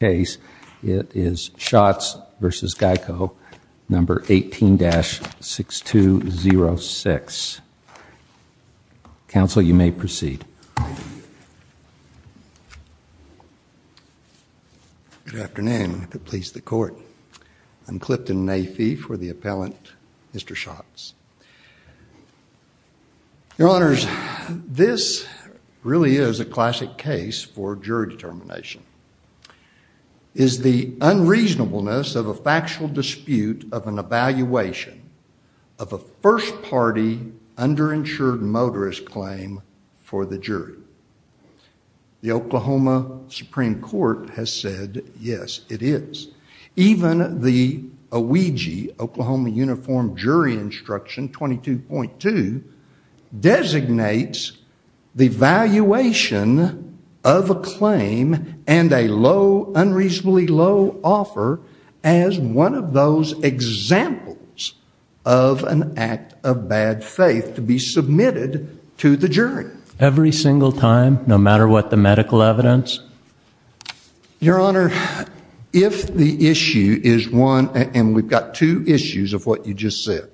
case. It is Schatz v. GEICO, number 18-6206. Counsel, you may proceed. Good afternoon. If it pleases the court, I'm Clifton Nafee for the appellant, Mr. Schatz. Your honors, this really is a classic case for jury determination. It is the unreasonableness of a factual dispute of an evaluation of a first-party underinsured motorist claim for the jury. The Oklahoma Supreme Court has said, yes, it is. Even the OIG, Oklahoma Uniform Jury Instruction 22.2 designates the valuation of a claim and a low, unreasonably low offer as one of those examples of an act of bad faith to be submitted to the jury. Every single time, no matter what the medical evidence? Your honor, if the issue is one, and we've got two issues of what you just said,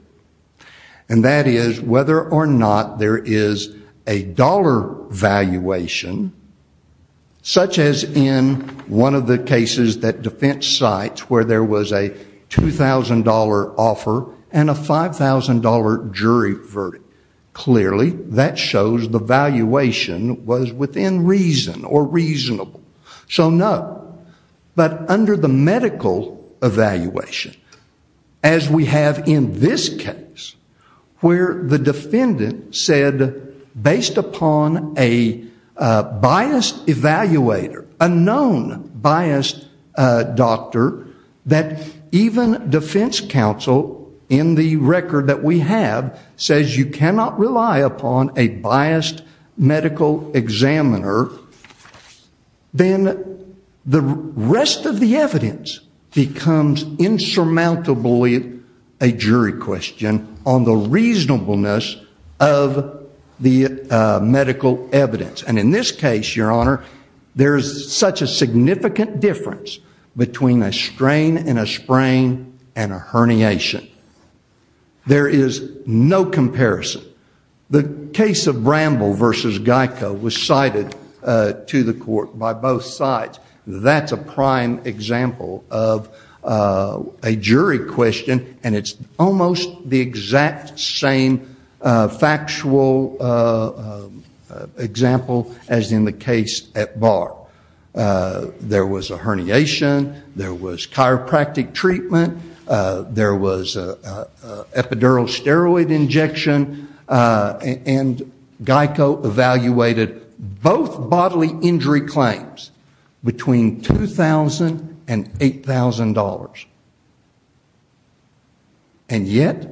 and that is whether or not there is a dollar valuation, such as in one of the cases that defense sites where there was a $2,000 offer and a $5,000 jury verdict. Clearly, that shows the valuation was within reason or reasonable. So no, but under the medical evaluation, as we have in this case, where the defendant said, based upon a biased evaluator, a known biased doctor, that even defense counsel in the record that we have says you cannot rely upon a biased medical examiner, then the rest of the evidence becomes insurmountably a jury question on the reasonableness of the medical evidence. And in this case, your honor, there is such a significant difference between a strain and a sprain and a herniation. There is no comparison. The case of Bramble v. Geico was cited to the court by both sides. That's a prime example of a jury question, and it's almost the exact same factual example as in the case at Barr. There was a herniation. There was chiropractic treatment. There was an epidural steroid injection, and Geico evaluated both bodily injury claims between $2,000 and $8,000. And yet,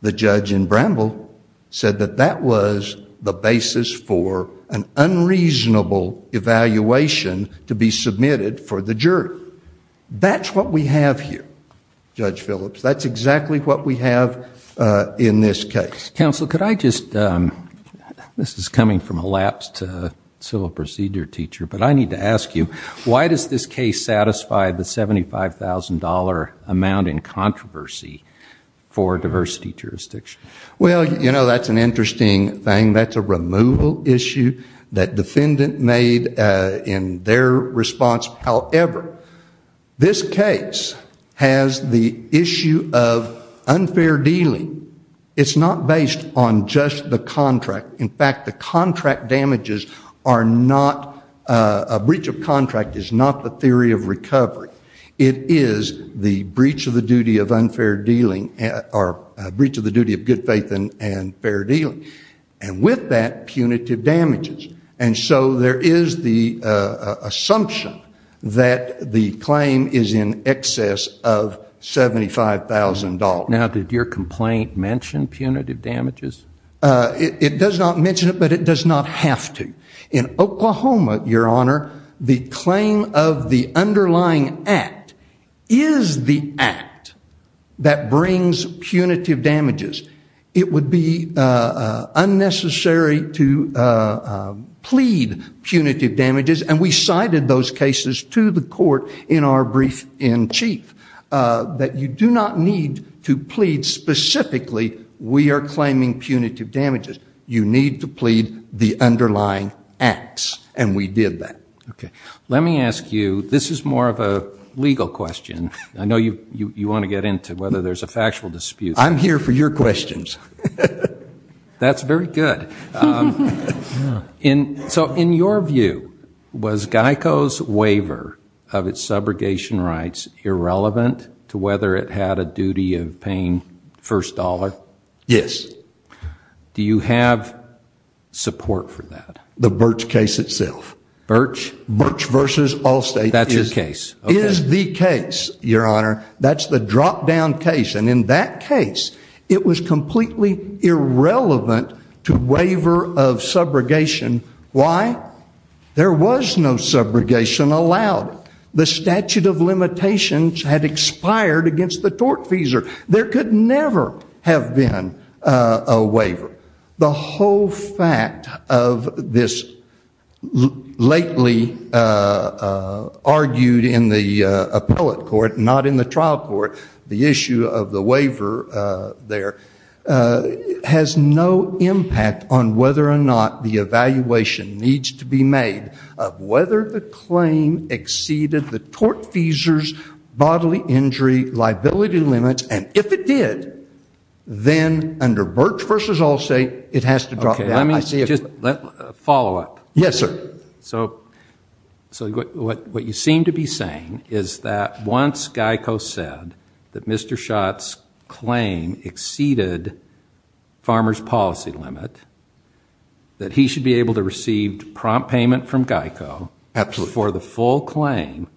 the judge in Bramble said that that was the basis for an unreasonable evaluation to be submitted for the jury. That's what we have here, Judge Phillips. That's exactly what we have in this case. Counsel, could I just, this is coming from a lapse to civil procedure teacher, but I need to ask you, why does this case satisfy the $75,000 amount in controversy for diversity jurisdiction? Well, you know, that's an interesting thing. That's a removal issue that defendant made in their response. However, this case has the issue of unfair dealing. It's not based on just the contract. In fact, the contract damages are not, a breach of contract is not the theory of recovery. It is the breach of the duty of unfair good faith and fair dealing. And with that, punitive damages. And so there is the assumption that the claim is in excess of $75,000. Now, did your complaint mention punitive damages? It does not mention it, but it does not have to. In Oklahoma, Your Honor, the claim of the underlying act is the that brings punitive damages. It would be unnecessary to plead punitive damages. And we cited those cases to the court in our brief in chief that you do not need to plead specifically. We are claiming punitive damages. You need to plead the underlying acts. And we did that. Okay. Let me ask you, this is more of a legal question. I know you want to get into whether there's a factual dispute. I'm here for your questions. That's very good. So in your view, was GEICO's waiver of its subrogation rights irrelevant to whether it had a duty of paying first dollar? Yes. Do you have support for that? The Birch case itself. Birch? Birch v. Allstate is the case, Your Honor. That's the drop-down case. And in that case, it was completely irrelevant to waiver of subrogation. Why? There was no subrogation allowed. The statute of limitations had expired against the tortfeasor. There could never have been a waiver. The whole fact of this lately argued in the appellate court, not in the trial court, the issue of the waiver there, has no impact on whether or not the evaluation needs to be made of whether the claim exceeded the And if it did, then under Birch v. Allstate, it has to drop down. Okay, let me just follow up. Yes, sir. So what you seem to be saying is that once GEICO said that Mr. Schott's claim exceeded Farmers' Policy Limit, that he should be able to receive prompt payment from GEICO for the full claim,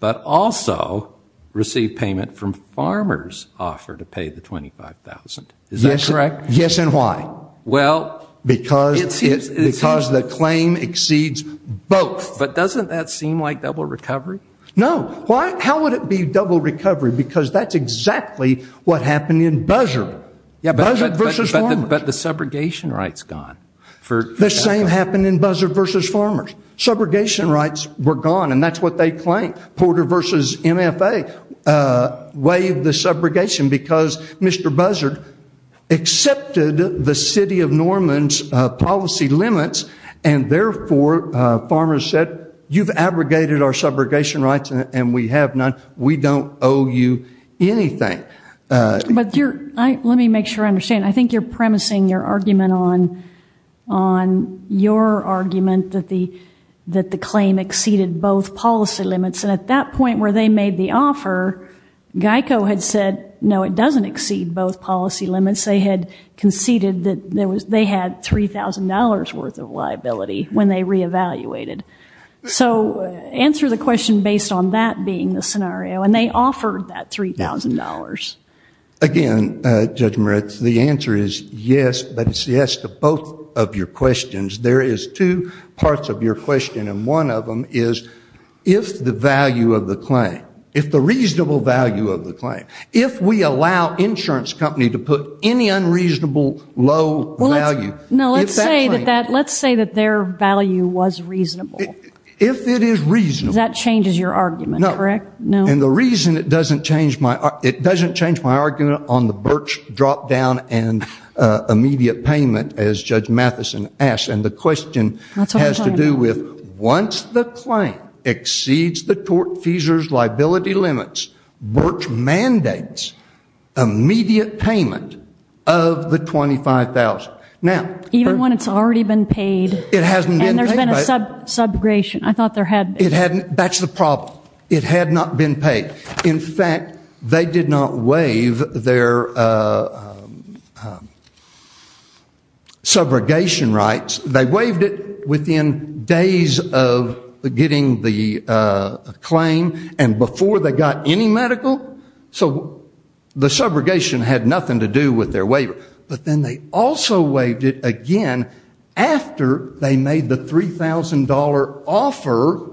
but also receive payment from Farmers' offer to pay the $25,000. Is that correct? Yes, and why? Well, it's because the claim exceeds both. But doesn't that seem like double recovery? No. How would it be double recovery? Because that's exactly what happened in Buzzer. Buzzer v. Farmers. But the subrogation right's gone. The same happened in Buzzer v. Farmers. Subrogation rights were gone, and that's what they claimed. Porter v. MFA waived the subrogation because Mr. Buzzer accepted the City of Norman's policy limits, and therefore Farmers said, you've abrogated our subrogation rights and we have none. We don't owe you anything. But let me make sure I understand. I think you're premising your argument on your argument that the claim exceeded both policy limits, and at that point where they made the offer, GEICO had said, no, it doesn't exceed both policy limits. They had conceded that they had $3,000 worth of liability when they re-evaluated. So answer the question based on that being the scenario, and they offered that $3,000. Again, Judge Moritz, the answer is yes, but it's yes to both of your questions. There is two parts of your question, and one of them is if the value of the claim, if the reasonable value of the claim, if we allow insurance company to put any unreasonable low value, if that claim... If it is reasonable. That changes your argument, correct? No, and the reason it doesn't change my argument on the BIRCWH drop-down and immediate payment, as Judge Mathison asked, and the question has to do with once the claim exceeds the tortfeasor's liability limits, BIRCWH mandates immediate payment of the $25,000. Now... Even when it's already been paid? It hasn't been paid, but... And there's been a subrogation. I thought there had... It hadn't... That's the problem. It had not been paid. In fact, they did not waive their subrogation rights. They waived it within days of getting the claim and before they got any medical. So the subrogation had nothing to do with their waiver. But then they also waived it again after they made the $3,000 offer,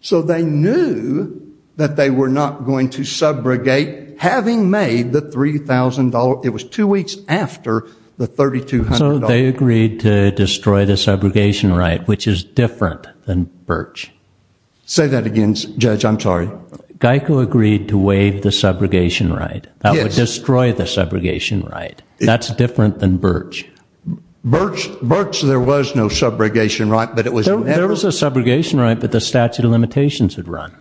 so they knew that they were not going to subrogate, having made the $3,000. It was two weeks after the $3,200. So they agreed to destroy the subrogation right, which is different than BIRCWH. Say that again, Judge. I'm sorry. GEICO agreed to waive the subrogation right. That would destroy the subrogation right. That's different than BIRCWH. BIRCWH, there was no subrogation right, but it was never... There was a subrogation right, but the statute of limitations had run.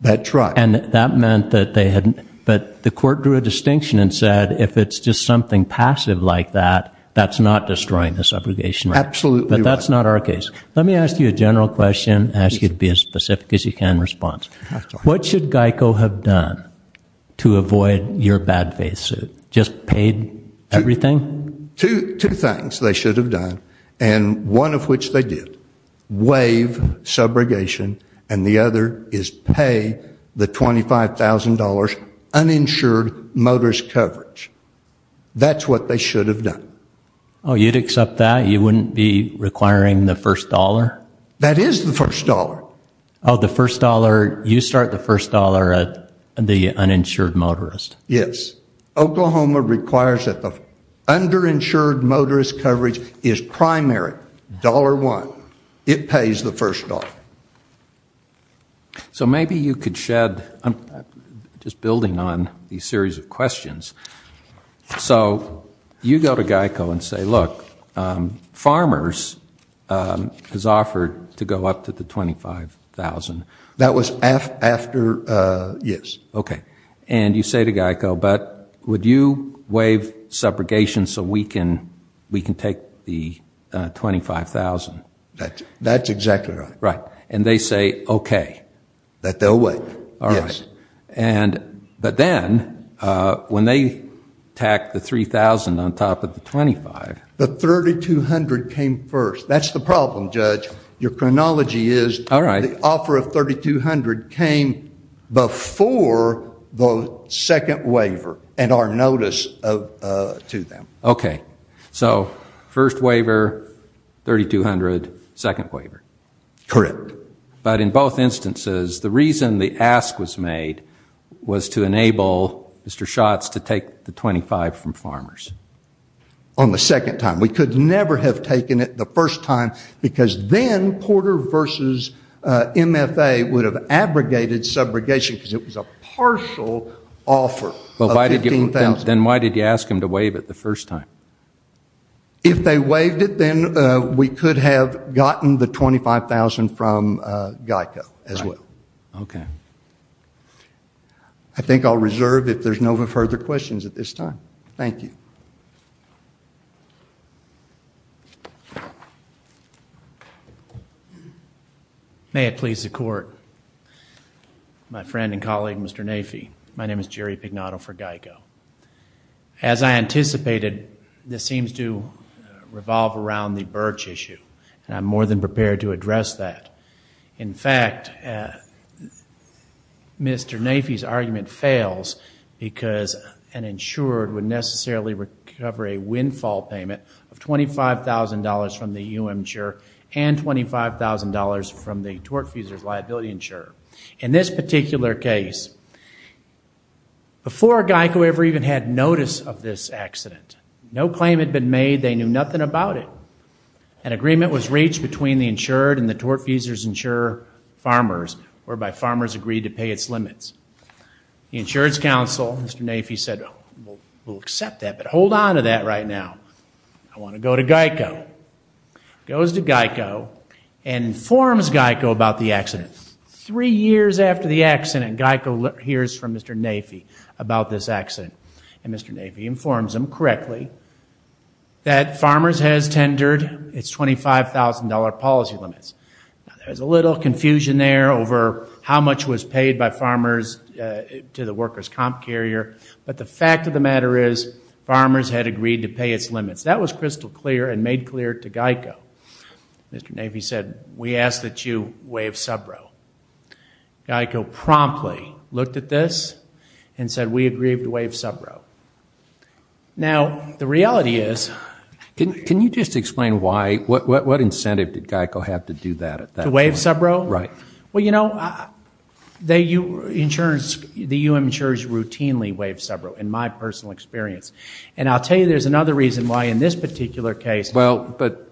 That's right. And that meant that they had... But the court drew a distinction and said, if it's just something passive like that, that's not destroying the subrogation right. Absolutely right. But that's not our case. Let me ask you a general question and ask you to be as specific as you can in response. What should GEICO have done to avoid your bad faith suit? Just paid everything? Two things they should have done, and one of which they did. Waive subrogation, and the other is pay the $25,000 uninsured motorist coverage. That's what they should have done. Oh, you'd accept that? You wouldn't be requiring the first dollar? That is the first dollar. Oh, the first dollar. You start the first dollar at the uninsured motorist. Yes. Oklahoma requires that the underinsured motorist coverage is primary, dollar one. It pays the first dollar. So maybe you could shed, just building on these series of questions. So you go to GEICO and say, look, farmers is offered to go up to the $25,000. That was after, yes. Okay. And you say to GEICO, but would you waive subrogation so we can take the $25,000? That's exactly right. Right. And they say, okay. That they'll waive. All right. And, but then, when they tack the $3,000 on top of the $25,000. The $3,200 came first. That's the problem, Judge. Your chronology is the offer of $3,200 came before the second waiver and our notice to them. Okay. So first waiver, $3,200, second waiver. Correct. But in both instances, the reason the ask was made was to enable Mr. Schatz to take the $25,000 from farmers. On the second time. We could never have taken it the first time because then Porter versus MFA would have abrogated subrogation because it was a partial offer of $15,000. Then why did you ask him to waive it the first time? If they waived it, then we could have gotten the $25,000 from GEICO as well. Okay. I think I'll reserve if there's no further questions at this time. Thank you. May it please the court. My friend and colleague, Mr. Nafee. My name is Jerry Pignotto for GEICO. As I anticipated, this seems to revolve around the birch issue and I'm more than prepared to address that. In fact, Mr. Nafee's argument fails because an insured would necessarily recover a windfall payment of $25,000 from the UM insurer and $25,000 from the tortfeasor's liability insurer. In this particular case, before GEICO ever even had notice of this accident, no claim had been made. They knew nothing about it. An agreement was reached between the insured and the tortfeasor's insurer farmers, whereby farmers agreed to pay its limits. The insurance counsel, Mr. Nafee, said, we'll accept that, but hold on to that right now. I want to go to GEICO. Goes to GEICO and informs GEICO about the accident. Three years after the accident, GEICO hears from Mr. Nafee about this accident and Mr. Nafee informs him correctly that farmers has tendered its $25,000 policy limits. There's a little confusion there over how much was paid by farmers to the workers' comp carrier, but the fact of the matter is, farmers had agreed to pay its limits. That was crystal clear and made clear to GEICO. Mr. Nafee said, we ask that you waive sub-row. GEICO promptly looked at this and said, we agree to waive sub-row. Now, the reality is- Can you just explain why, what incentive did GEICO have to do that at that point? To waive sub-row? Right. Well, you know, the insurance, the U.M. insurers routinely waive sub-row, in my personal experience. And I'll tell you there's another reason why in this particular case- Well, but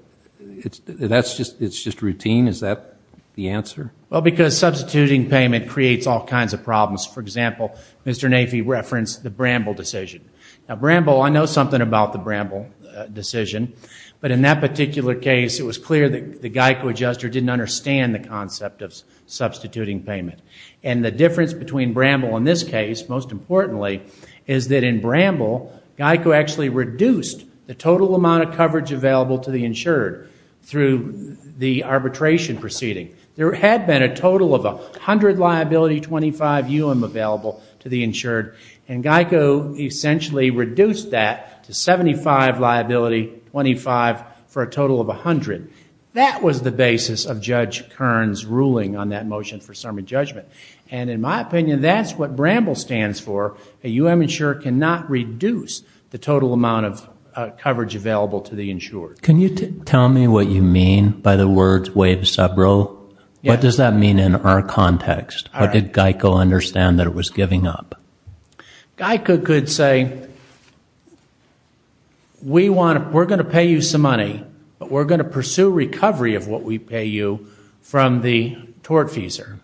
that's just, it's just routine? Is that the answer? Well, because substituting payment creates all kinds of problems. For example, Mr. Nafee referenced the Bramble decision. Now, Bramble, I know something about the Bramble decision, but in that particular case, it was clear that the GEICO adjuster didn't understand the concept of substituting payment. And the difference between Bramble in this case, most importantly, is that in Bramble, GEICO actually reduced the total amount of coverage available to the insurer through the arbitration proceeding. There had been a total of 100 liability, 25 U.M. available to the insured, and GEICO essentially reduced that to 75 liability, 25 for a total of 100. That was the basis of Judge Kern's ruling on that motion for summary judgment. And in my opinion, that's what Bramble stands for. A U.M. insurer cannot reduce the total amount of coverage available to the insured. Can you tell me what you mean by the words waive subroll? What does that mean in our context? How did GEICO understand that it was giving up? GEICO could say, we're going to pay you some money, but we're going to pursue recovery of what we pay you from the tortfeasor.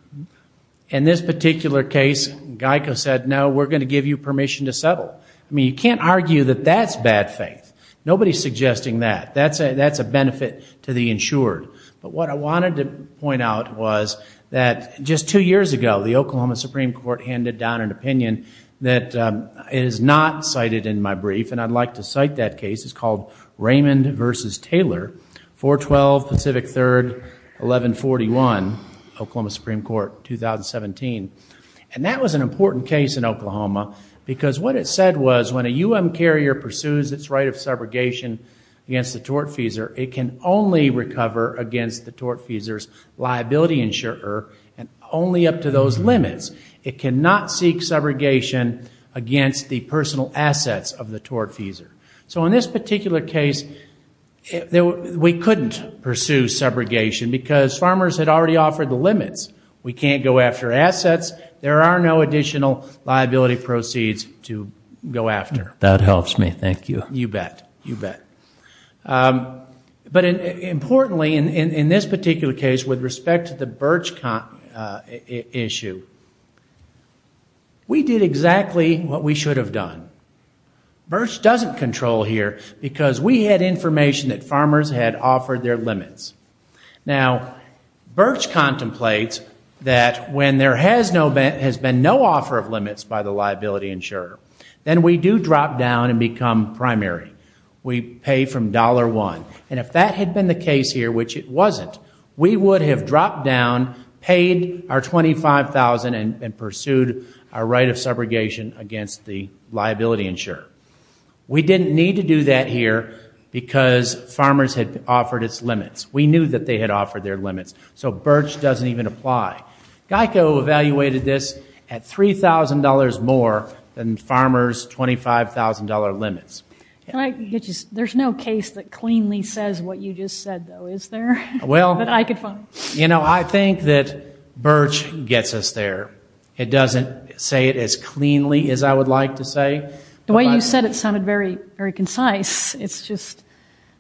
In this particular case, GEICO said, no, we're going to give you permission to settle. I mean, you can't argue that that's bad faith. Nobody's suggesting that. That's a benefit to the insured. But what I wanted to point out was that just two years ago, the Oklahoma Supreme Court handed down an opinion that is not cited in my brief, and I'd like to cite that case. It's called Raymond v. Taylor, 4-12 Pacific 3rd, 1141, Oklahoma Supreme Court, 2017. And that was an important case in Oklahoma because what it said was, when a U.M. carrier pursues its right of subrogation against the tortfeasor, it can only recover against the tortfeasor's liability insurer and only up to those limits. It cannot seek subrogation against the personal assets of the tortfeasor. So in this particular case, we couldn't pursue subrogation because farmers had already offered the limits. We can't go after assets. There are no additional liability proceeds to go after. That helps me. Thank you. You bet. You bet. But importantly, in this particular case, with respect to the Birch issue, we did exactly what we should have done. Birch doesn't control here because we had information that farmers had offered their limits. Now, Birch contemplates that when there has been no offer of limits by the liability insurer, then we do drop down and become primary. We pay from dollar one. And if that had been the case here, which it wasn't, we would have dropped down, paid our $25,000, and pursued our right of subrogation against the liability insurer. We didn't need to do that here because farmers had offered its limits. We knew that they had offered their limits. So Birch doesn't even apply. GEICO evaluated this at $3,000 more than farmers' $25,000 limits. There's no case that cleanly says what you just said, though, is there? Well, you know, I think that Birch gets us there. It doesn't say it as cleanly as I would like to say. The way you said it sounded very concise. It's just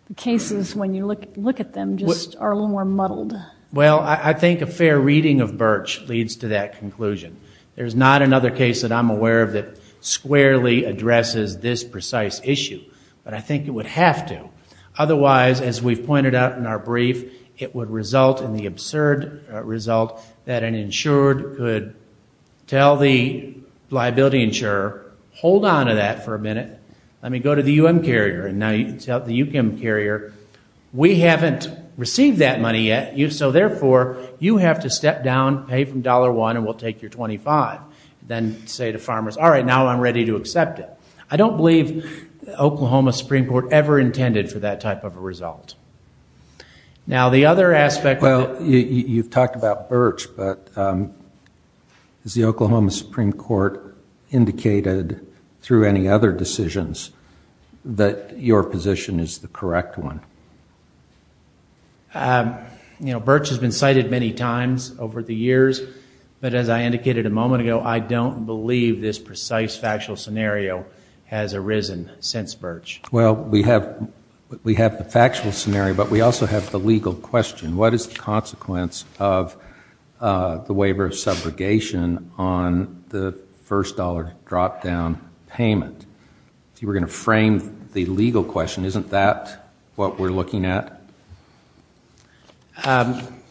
the cases, when you look at them, just are a little more muddled. Well, I think a fair reading of Birch leads to that conclusion. There's not another case that I'm aware of that squarely addresses this precise issue. But I think it would have to. Otherwise, as we've pointed out in our brief, it would result in the absurd result that an insured could tell the liability insurer, hold on to that for a minute. Let me go to the U.M. carrier. And now you can tell the U.K. carrier, we haven't received that money yet. So therefore, you have to step down, pay from $1, and we'll take your $25. Then say to farmers, all right, now I'm ready to accept it. I don't believe the Oklahoma Supreme Court ever intended for that type of a result. Now, the other aspect of it. You've talked about Birch, but has the Oklahoma Supreme Court indicated through any other decisions that your position is the correct one? You know, Birch has been cited many times over the years. But as I indicated a moment ago, I don't believe this precise factual scenario has arisen since Birch. Well, we have the factual scenario, but we also have the legal question. What is the consequence of the waiver of subrogation on the first dollar drop-down payment? If you were going to frame the legal question, isn't that what we're looking at?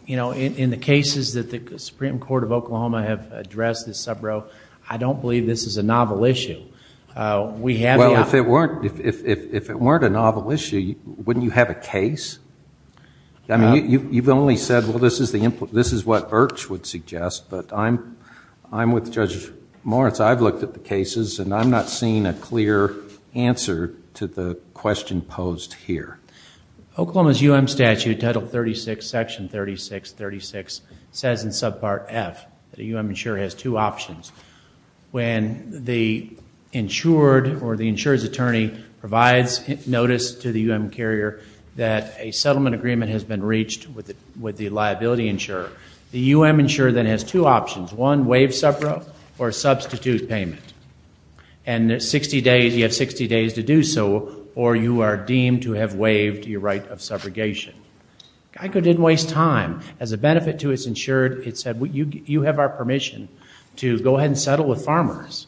You know, in the cases that the Supreme Court of Oklahoma have addressed this subrow, I don't believe this is a novel issue. Well, if it weren't a novel issue, wouldn't you have a case? I mean, you've only said, well, this is what Birch would suggest, but I'm with Judge Moritz. I've looked at the cases, and I'm not seeing a clear answer to the question posed here. Oklahoma's U.M. statute, Title 36, Section 3636, says in Subpart F that a U.M. insurer has two options. When the insured or the insurer's attorney provides notice to the U.M. carrier that a settlement agreement has been reached with the liability insurer, the U.M. insurer then has two options, one, waive subrow or substitute payment. And you have 60 days to do so, or you are deemed to have waived your right of subrogation. GEICO didn't waste time. As a benefit to its insured, it said, you have our permission to go ahead and settle with farmers.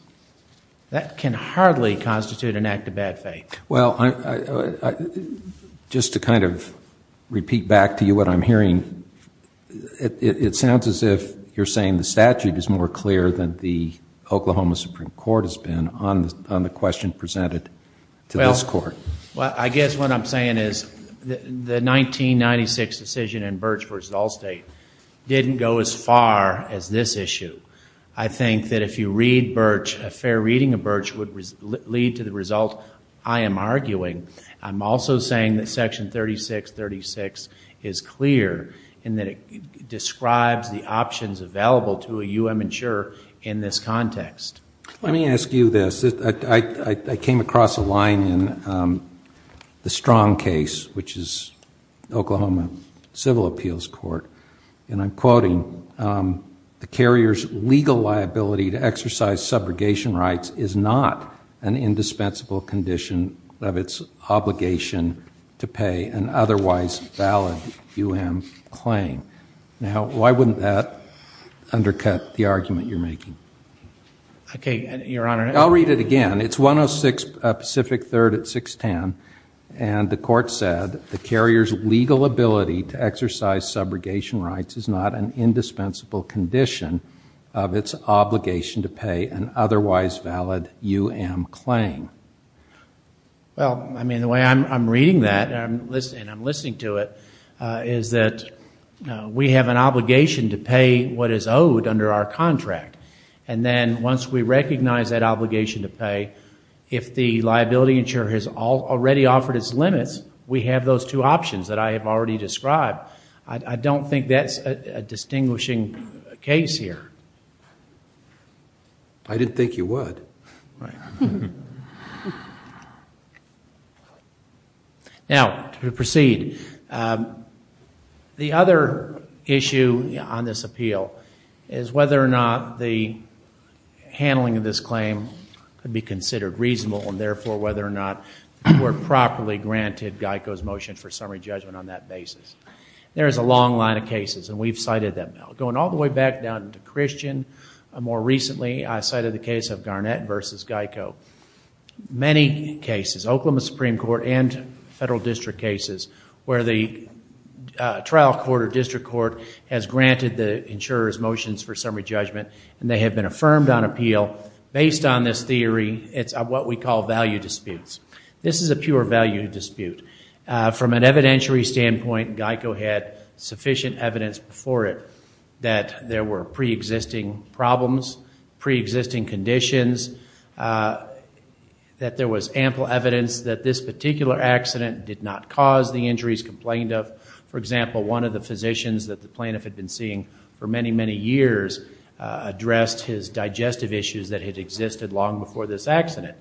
That can hardly constitute an act of bad faith. Well, just to kind of repeat back to you what I'm hearing, it sounds as if you're saying the statute is more clear than the Oklahoma Supreme Court has been on the question presented to this Court. Well, I guess what I'm saying is the 1996 decision in Birch v. Allstate didn't go as far as this issue. I think that if you read Birch, a fair reading of Birch would lead to the result I am arguing. I'm also saying that Section 3636 is clear in that it describes the options available to a U.M. insurer in this context. Let me ask you this. I came across a line in the Strong case, which is Oklahoma Civil Appeals Court, and I'm quoting, the carrier's legal liability to exercise subrogation rights is not an indispensable condition of its obligation to pay an otherwise valid U.M. claim. Now, why wouldn't that undercut the argument you're making? Okay, Your Honor. I'll read it again. It's 106 Pacific 3rd at 610. And the court said the carrier's legal ability to exercise subrogation rights is not an indispensable condition of its obligation to pay an otherwise valid U.M. claim. Well, I mean, the way I'm reading that and I'm listening to it is that we have an obligation to pay what is owed under our contract. If the liability insurer has already offered its limits, we have those two options that I have already described. I don't think that's a distinguishing case here. I didn't think you would. Now, to proceed. The other issue on this appeal is whether or not the handling of this claim could be considered reasonable and, therefore, whether or not the court properly granted Geico's motion for summary judgment on that basis. There is a long line of cases, and we've cited them. Going all the way back down to Christian, more recently, Many cases, Oklahoma Supreme Court and federal district cases, where the trial court or district court has granted the insurer's motions for summary judgment and they have been affirmed on appeal. Based on this theory, it's what we call value disputes. This is a pure value dispute. From an evidentiary standpoint, Geico had sufficient evidence before it that there were pre-existing problems, pre-existing conditions, that there was ample evidence that this particular accident did not cause the injuries complained of. For example, one of the physicians that the plaintiff had been seeing for many, many years addressed his digestive issues that had existed long before this accident.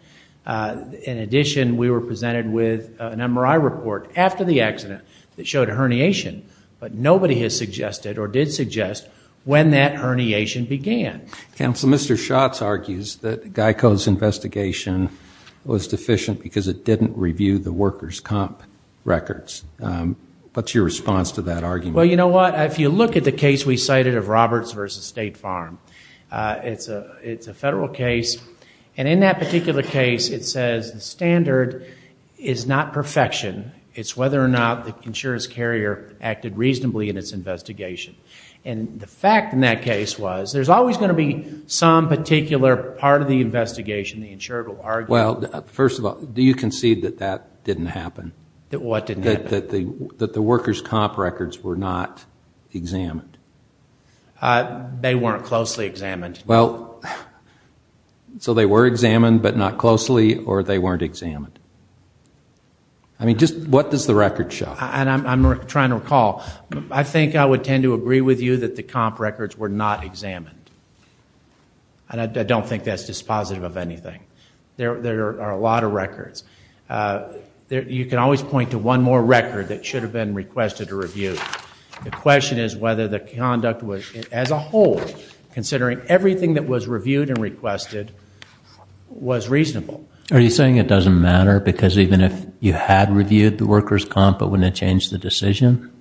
In addition, we were presented with an MRI report after the accident that showed herniation, but nobody has suggested or did suggest when that herniation began. Counsel, Mr. Schatz argues that Geico's investigation was deficient because it didn't review the workers' comp records. What's your response to that argument? Well, you know what, if you look at the case we cited of Roberts v. State Farm, it's a federal case, and in that particular case, it says the standard is not perfection. It's whether or not the insurer's carrier acted reasonably in its investigation. And the fact in that case was there's always going to be some particular part of the investigation the insurer will argue. Well, first of all, do you concede that that didn't happen? That what didn't happen? That the workers' comp records were not examined. They weren't closely examined. Well, so they were examined but not closely, or they weren't examined? I mean, just what does the record show? And I'm trying to recall. I think I would tend to agree with you that the comp records were not examined. And I don't think that's dispositive of anything. There are a lot of records. You can always point to one more record that should have been requested to review. The question is whether the conduct as a whole, considering everything that was reviewed and requested, was reasonable. Are you saying it doesn't matter because even if you had reviewed the workers' comp, it wouldn't have changed the decision?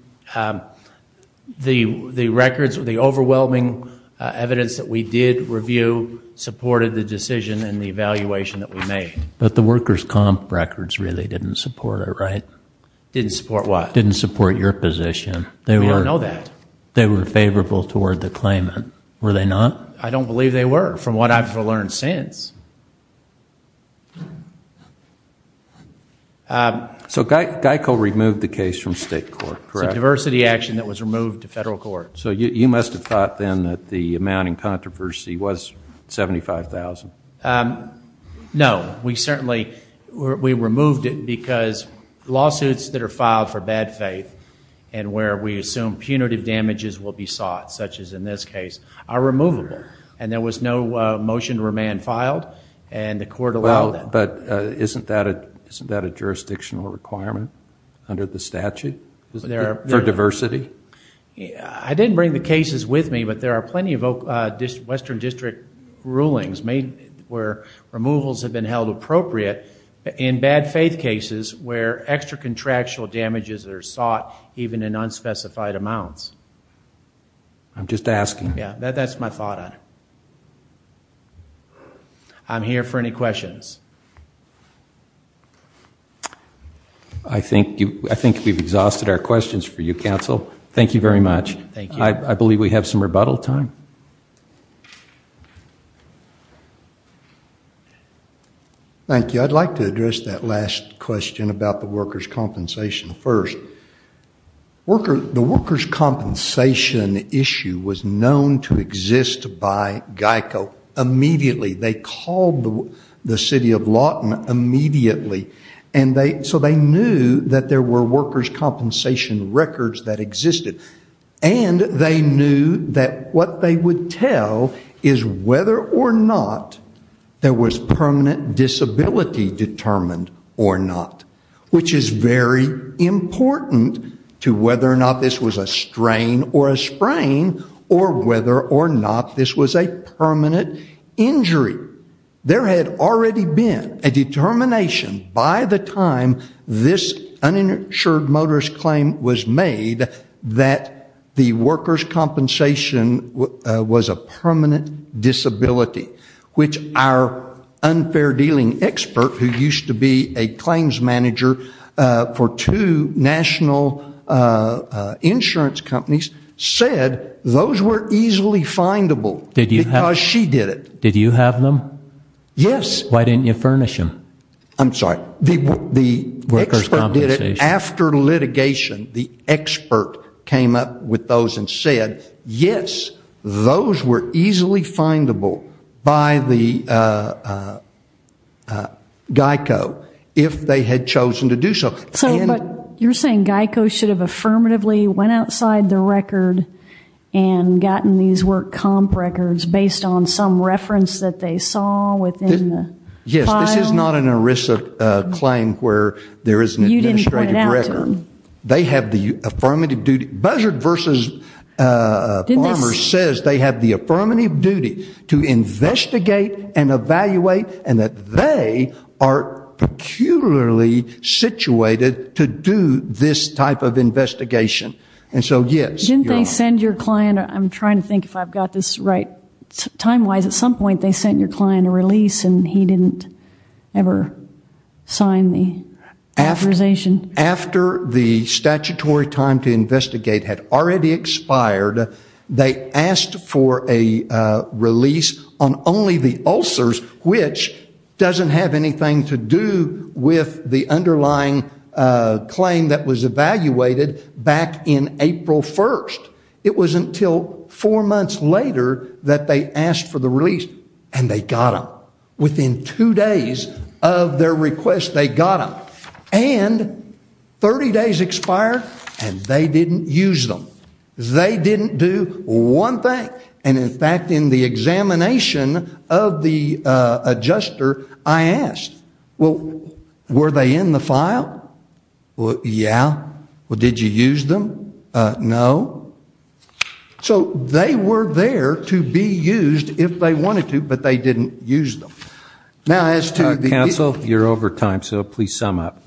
The records, the overwhelming evidence that we did review, supported the decision and the evaluation that we made. But the workers' comp records really didn't support it, right? Didn't support what? Didn't support your position. We don't know that. They were favorable toward the claimant, were they not? I don't believe they were, from what I've learned since. So GEICO removed the case from state court, correct? It's a diversity action that was removed to federal court. So you must have thought then that the amount in controversy was $75,000. No. We certainly removed it because lawsuits that are filed for bad faith and where we assume punitive damages will be sought, such as in this case, are removable. And there was no motion to remand filed and the court allowed that. But isn't that a jurisdictional requirement under the statute for diversity? I didn't bring the cases with me, but there are plenty of western district rulings where removals have been held appropriate in bad faith cases where extra contractual damages are sought even in unspecified amounts. I'm just asking. Yeah, that's my thought on it. I'm here for any questions. I think we've exhausted our questions for you, counsel. Thank you very much. Thank you. I believe we have some rebuttal time. Thank you. I'd like to address that last question about the workers' compensation first. The workers' compensation issue was known to exist by GEICO immediately. They called the city of Lawton immediately, so they knew that there were workers' compensation records that existed. And they knew that what they would tell is whether or not there was permanent disability determined or not, which is very important to whether or not this was a strain or a sprain or whether or not this was a permanent injury. There had already been a determination by the time this uninsured motorist claim was made that the workers' compensation was a permanent disability, which our unfair dealing expert, who used to be a claims manager for two national insurance companies, said those were easily findable because she did it. Did you have them? Yes. Why didn't you furnish them? I'm sorry. The expert did it after litigation. The expert came up with those and said, yes, those were easily findable by the GEICO if they had chosen to do so. But you're saying GEICO should have affirmatively went outside the record and gotten these work comp records based on some reference that they saw within the file? Yes. This is not an ERISA claim where there is an administrative record. You didn't point it out to them. They have the affirmative duty. Buzzard v. Farmers says they have the affirmative duty to investigate and evaluate and that they are peculiarly situated to do this type of investigation. And so, yes. Didn't they send your client? I'm trying to think if I've got this right. But time-wise, at some point they sent your client a release and he didn't ever sign the authorization. After the statutory time to investigate had already expired, they asked for a release on only the ulcers, which doesn't have anything to do with the underlying claim that was evaluated back in April 1st. It wasn't until four months later that they asked for the release and they got them. Within two days of their request, they got them. And 30 days expired and they didn't use them. They didn't do one thing. And, in fact, in the examination of the adjuster, I asked, well, were they in the file? Yeah. Well, did you use them? No. So they were there to be used if they wanted to, but they didn't use them. Counsel, you're over time, so please sum up.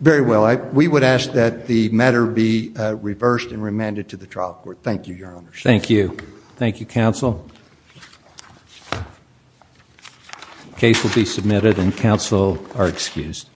Very well. We would ask that the matter be reversed and remanded to the trial court. Thank you, Your Honor. Thank you. Thank you, counsel. The case will be submitted and counsel are excused.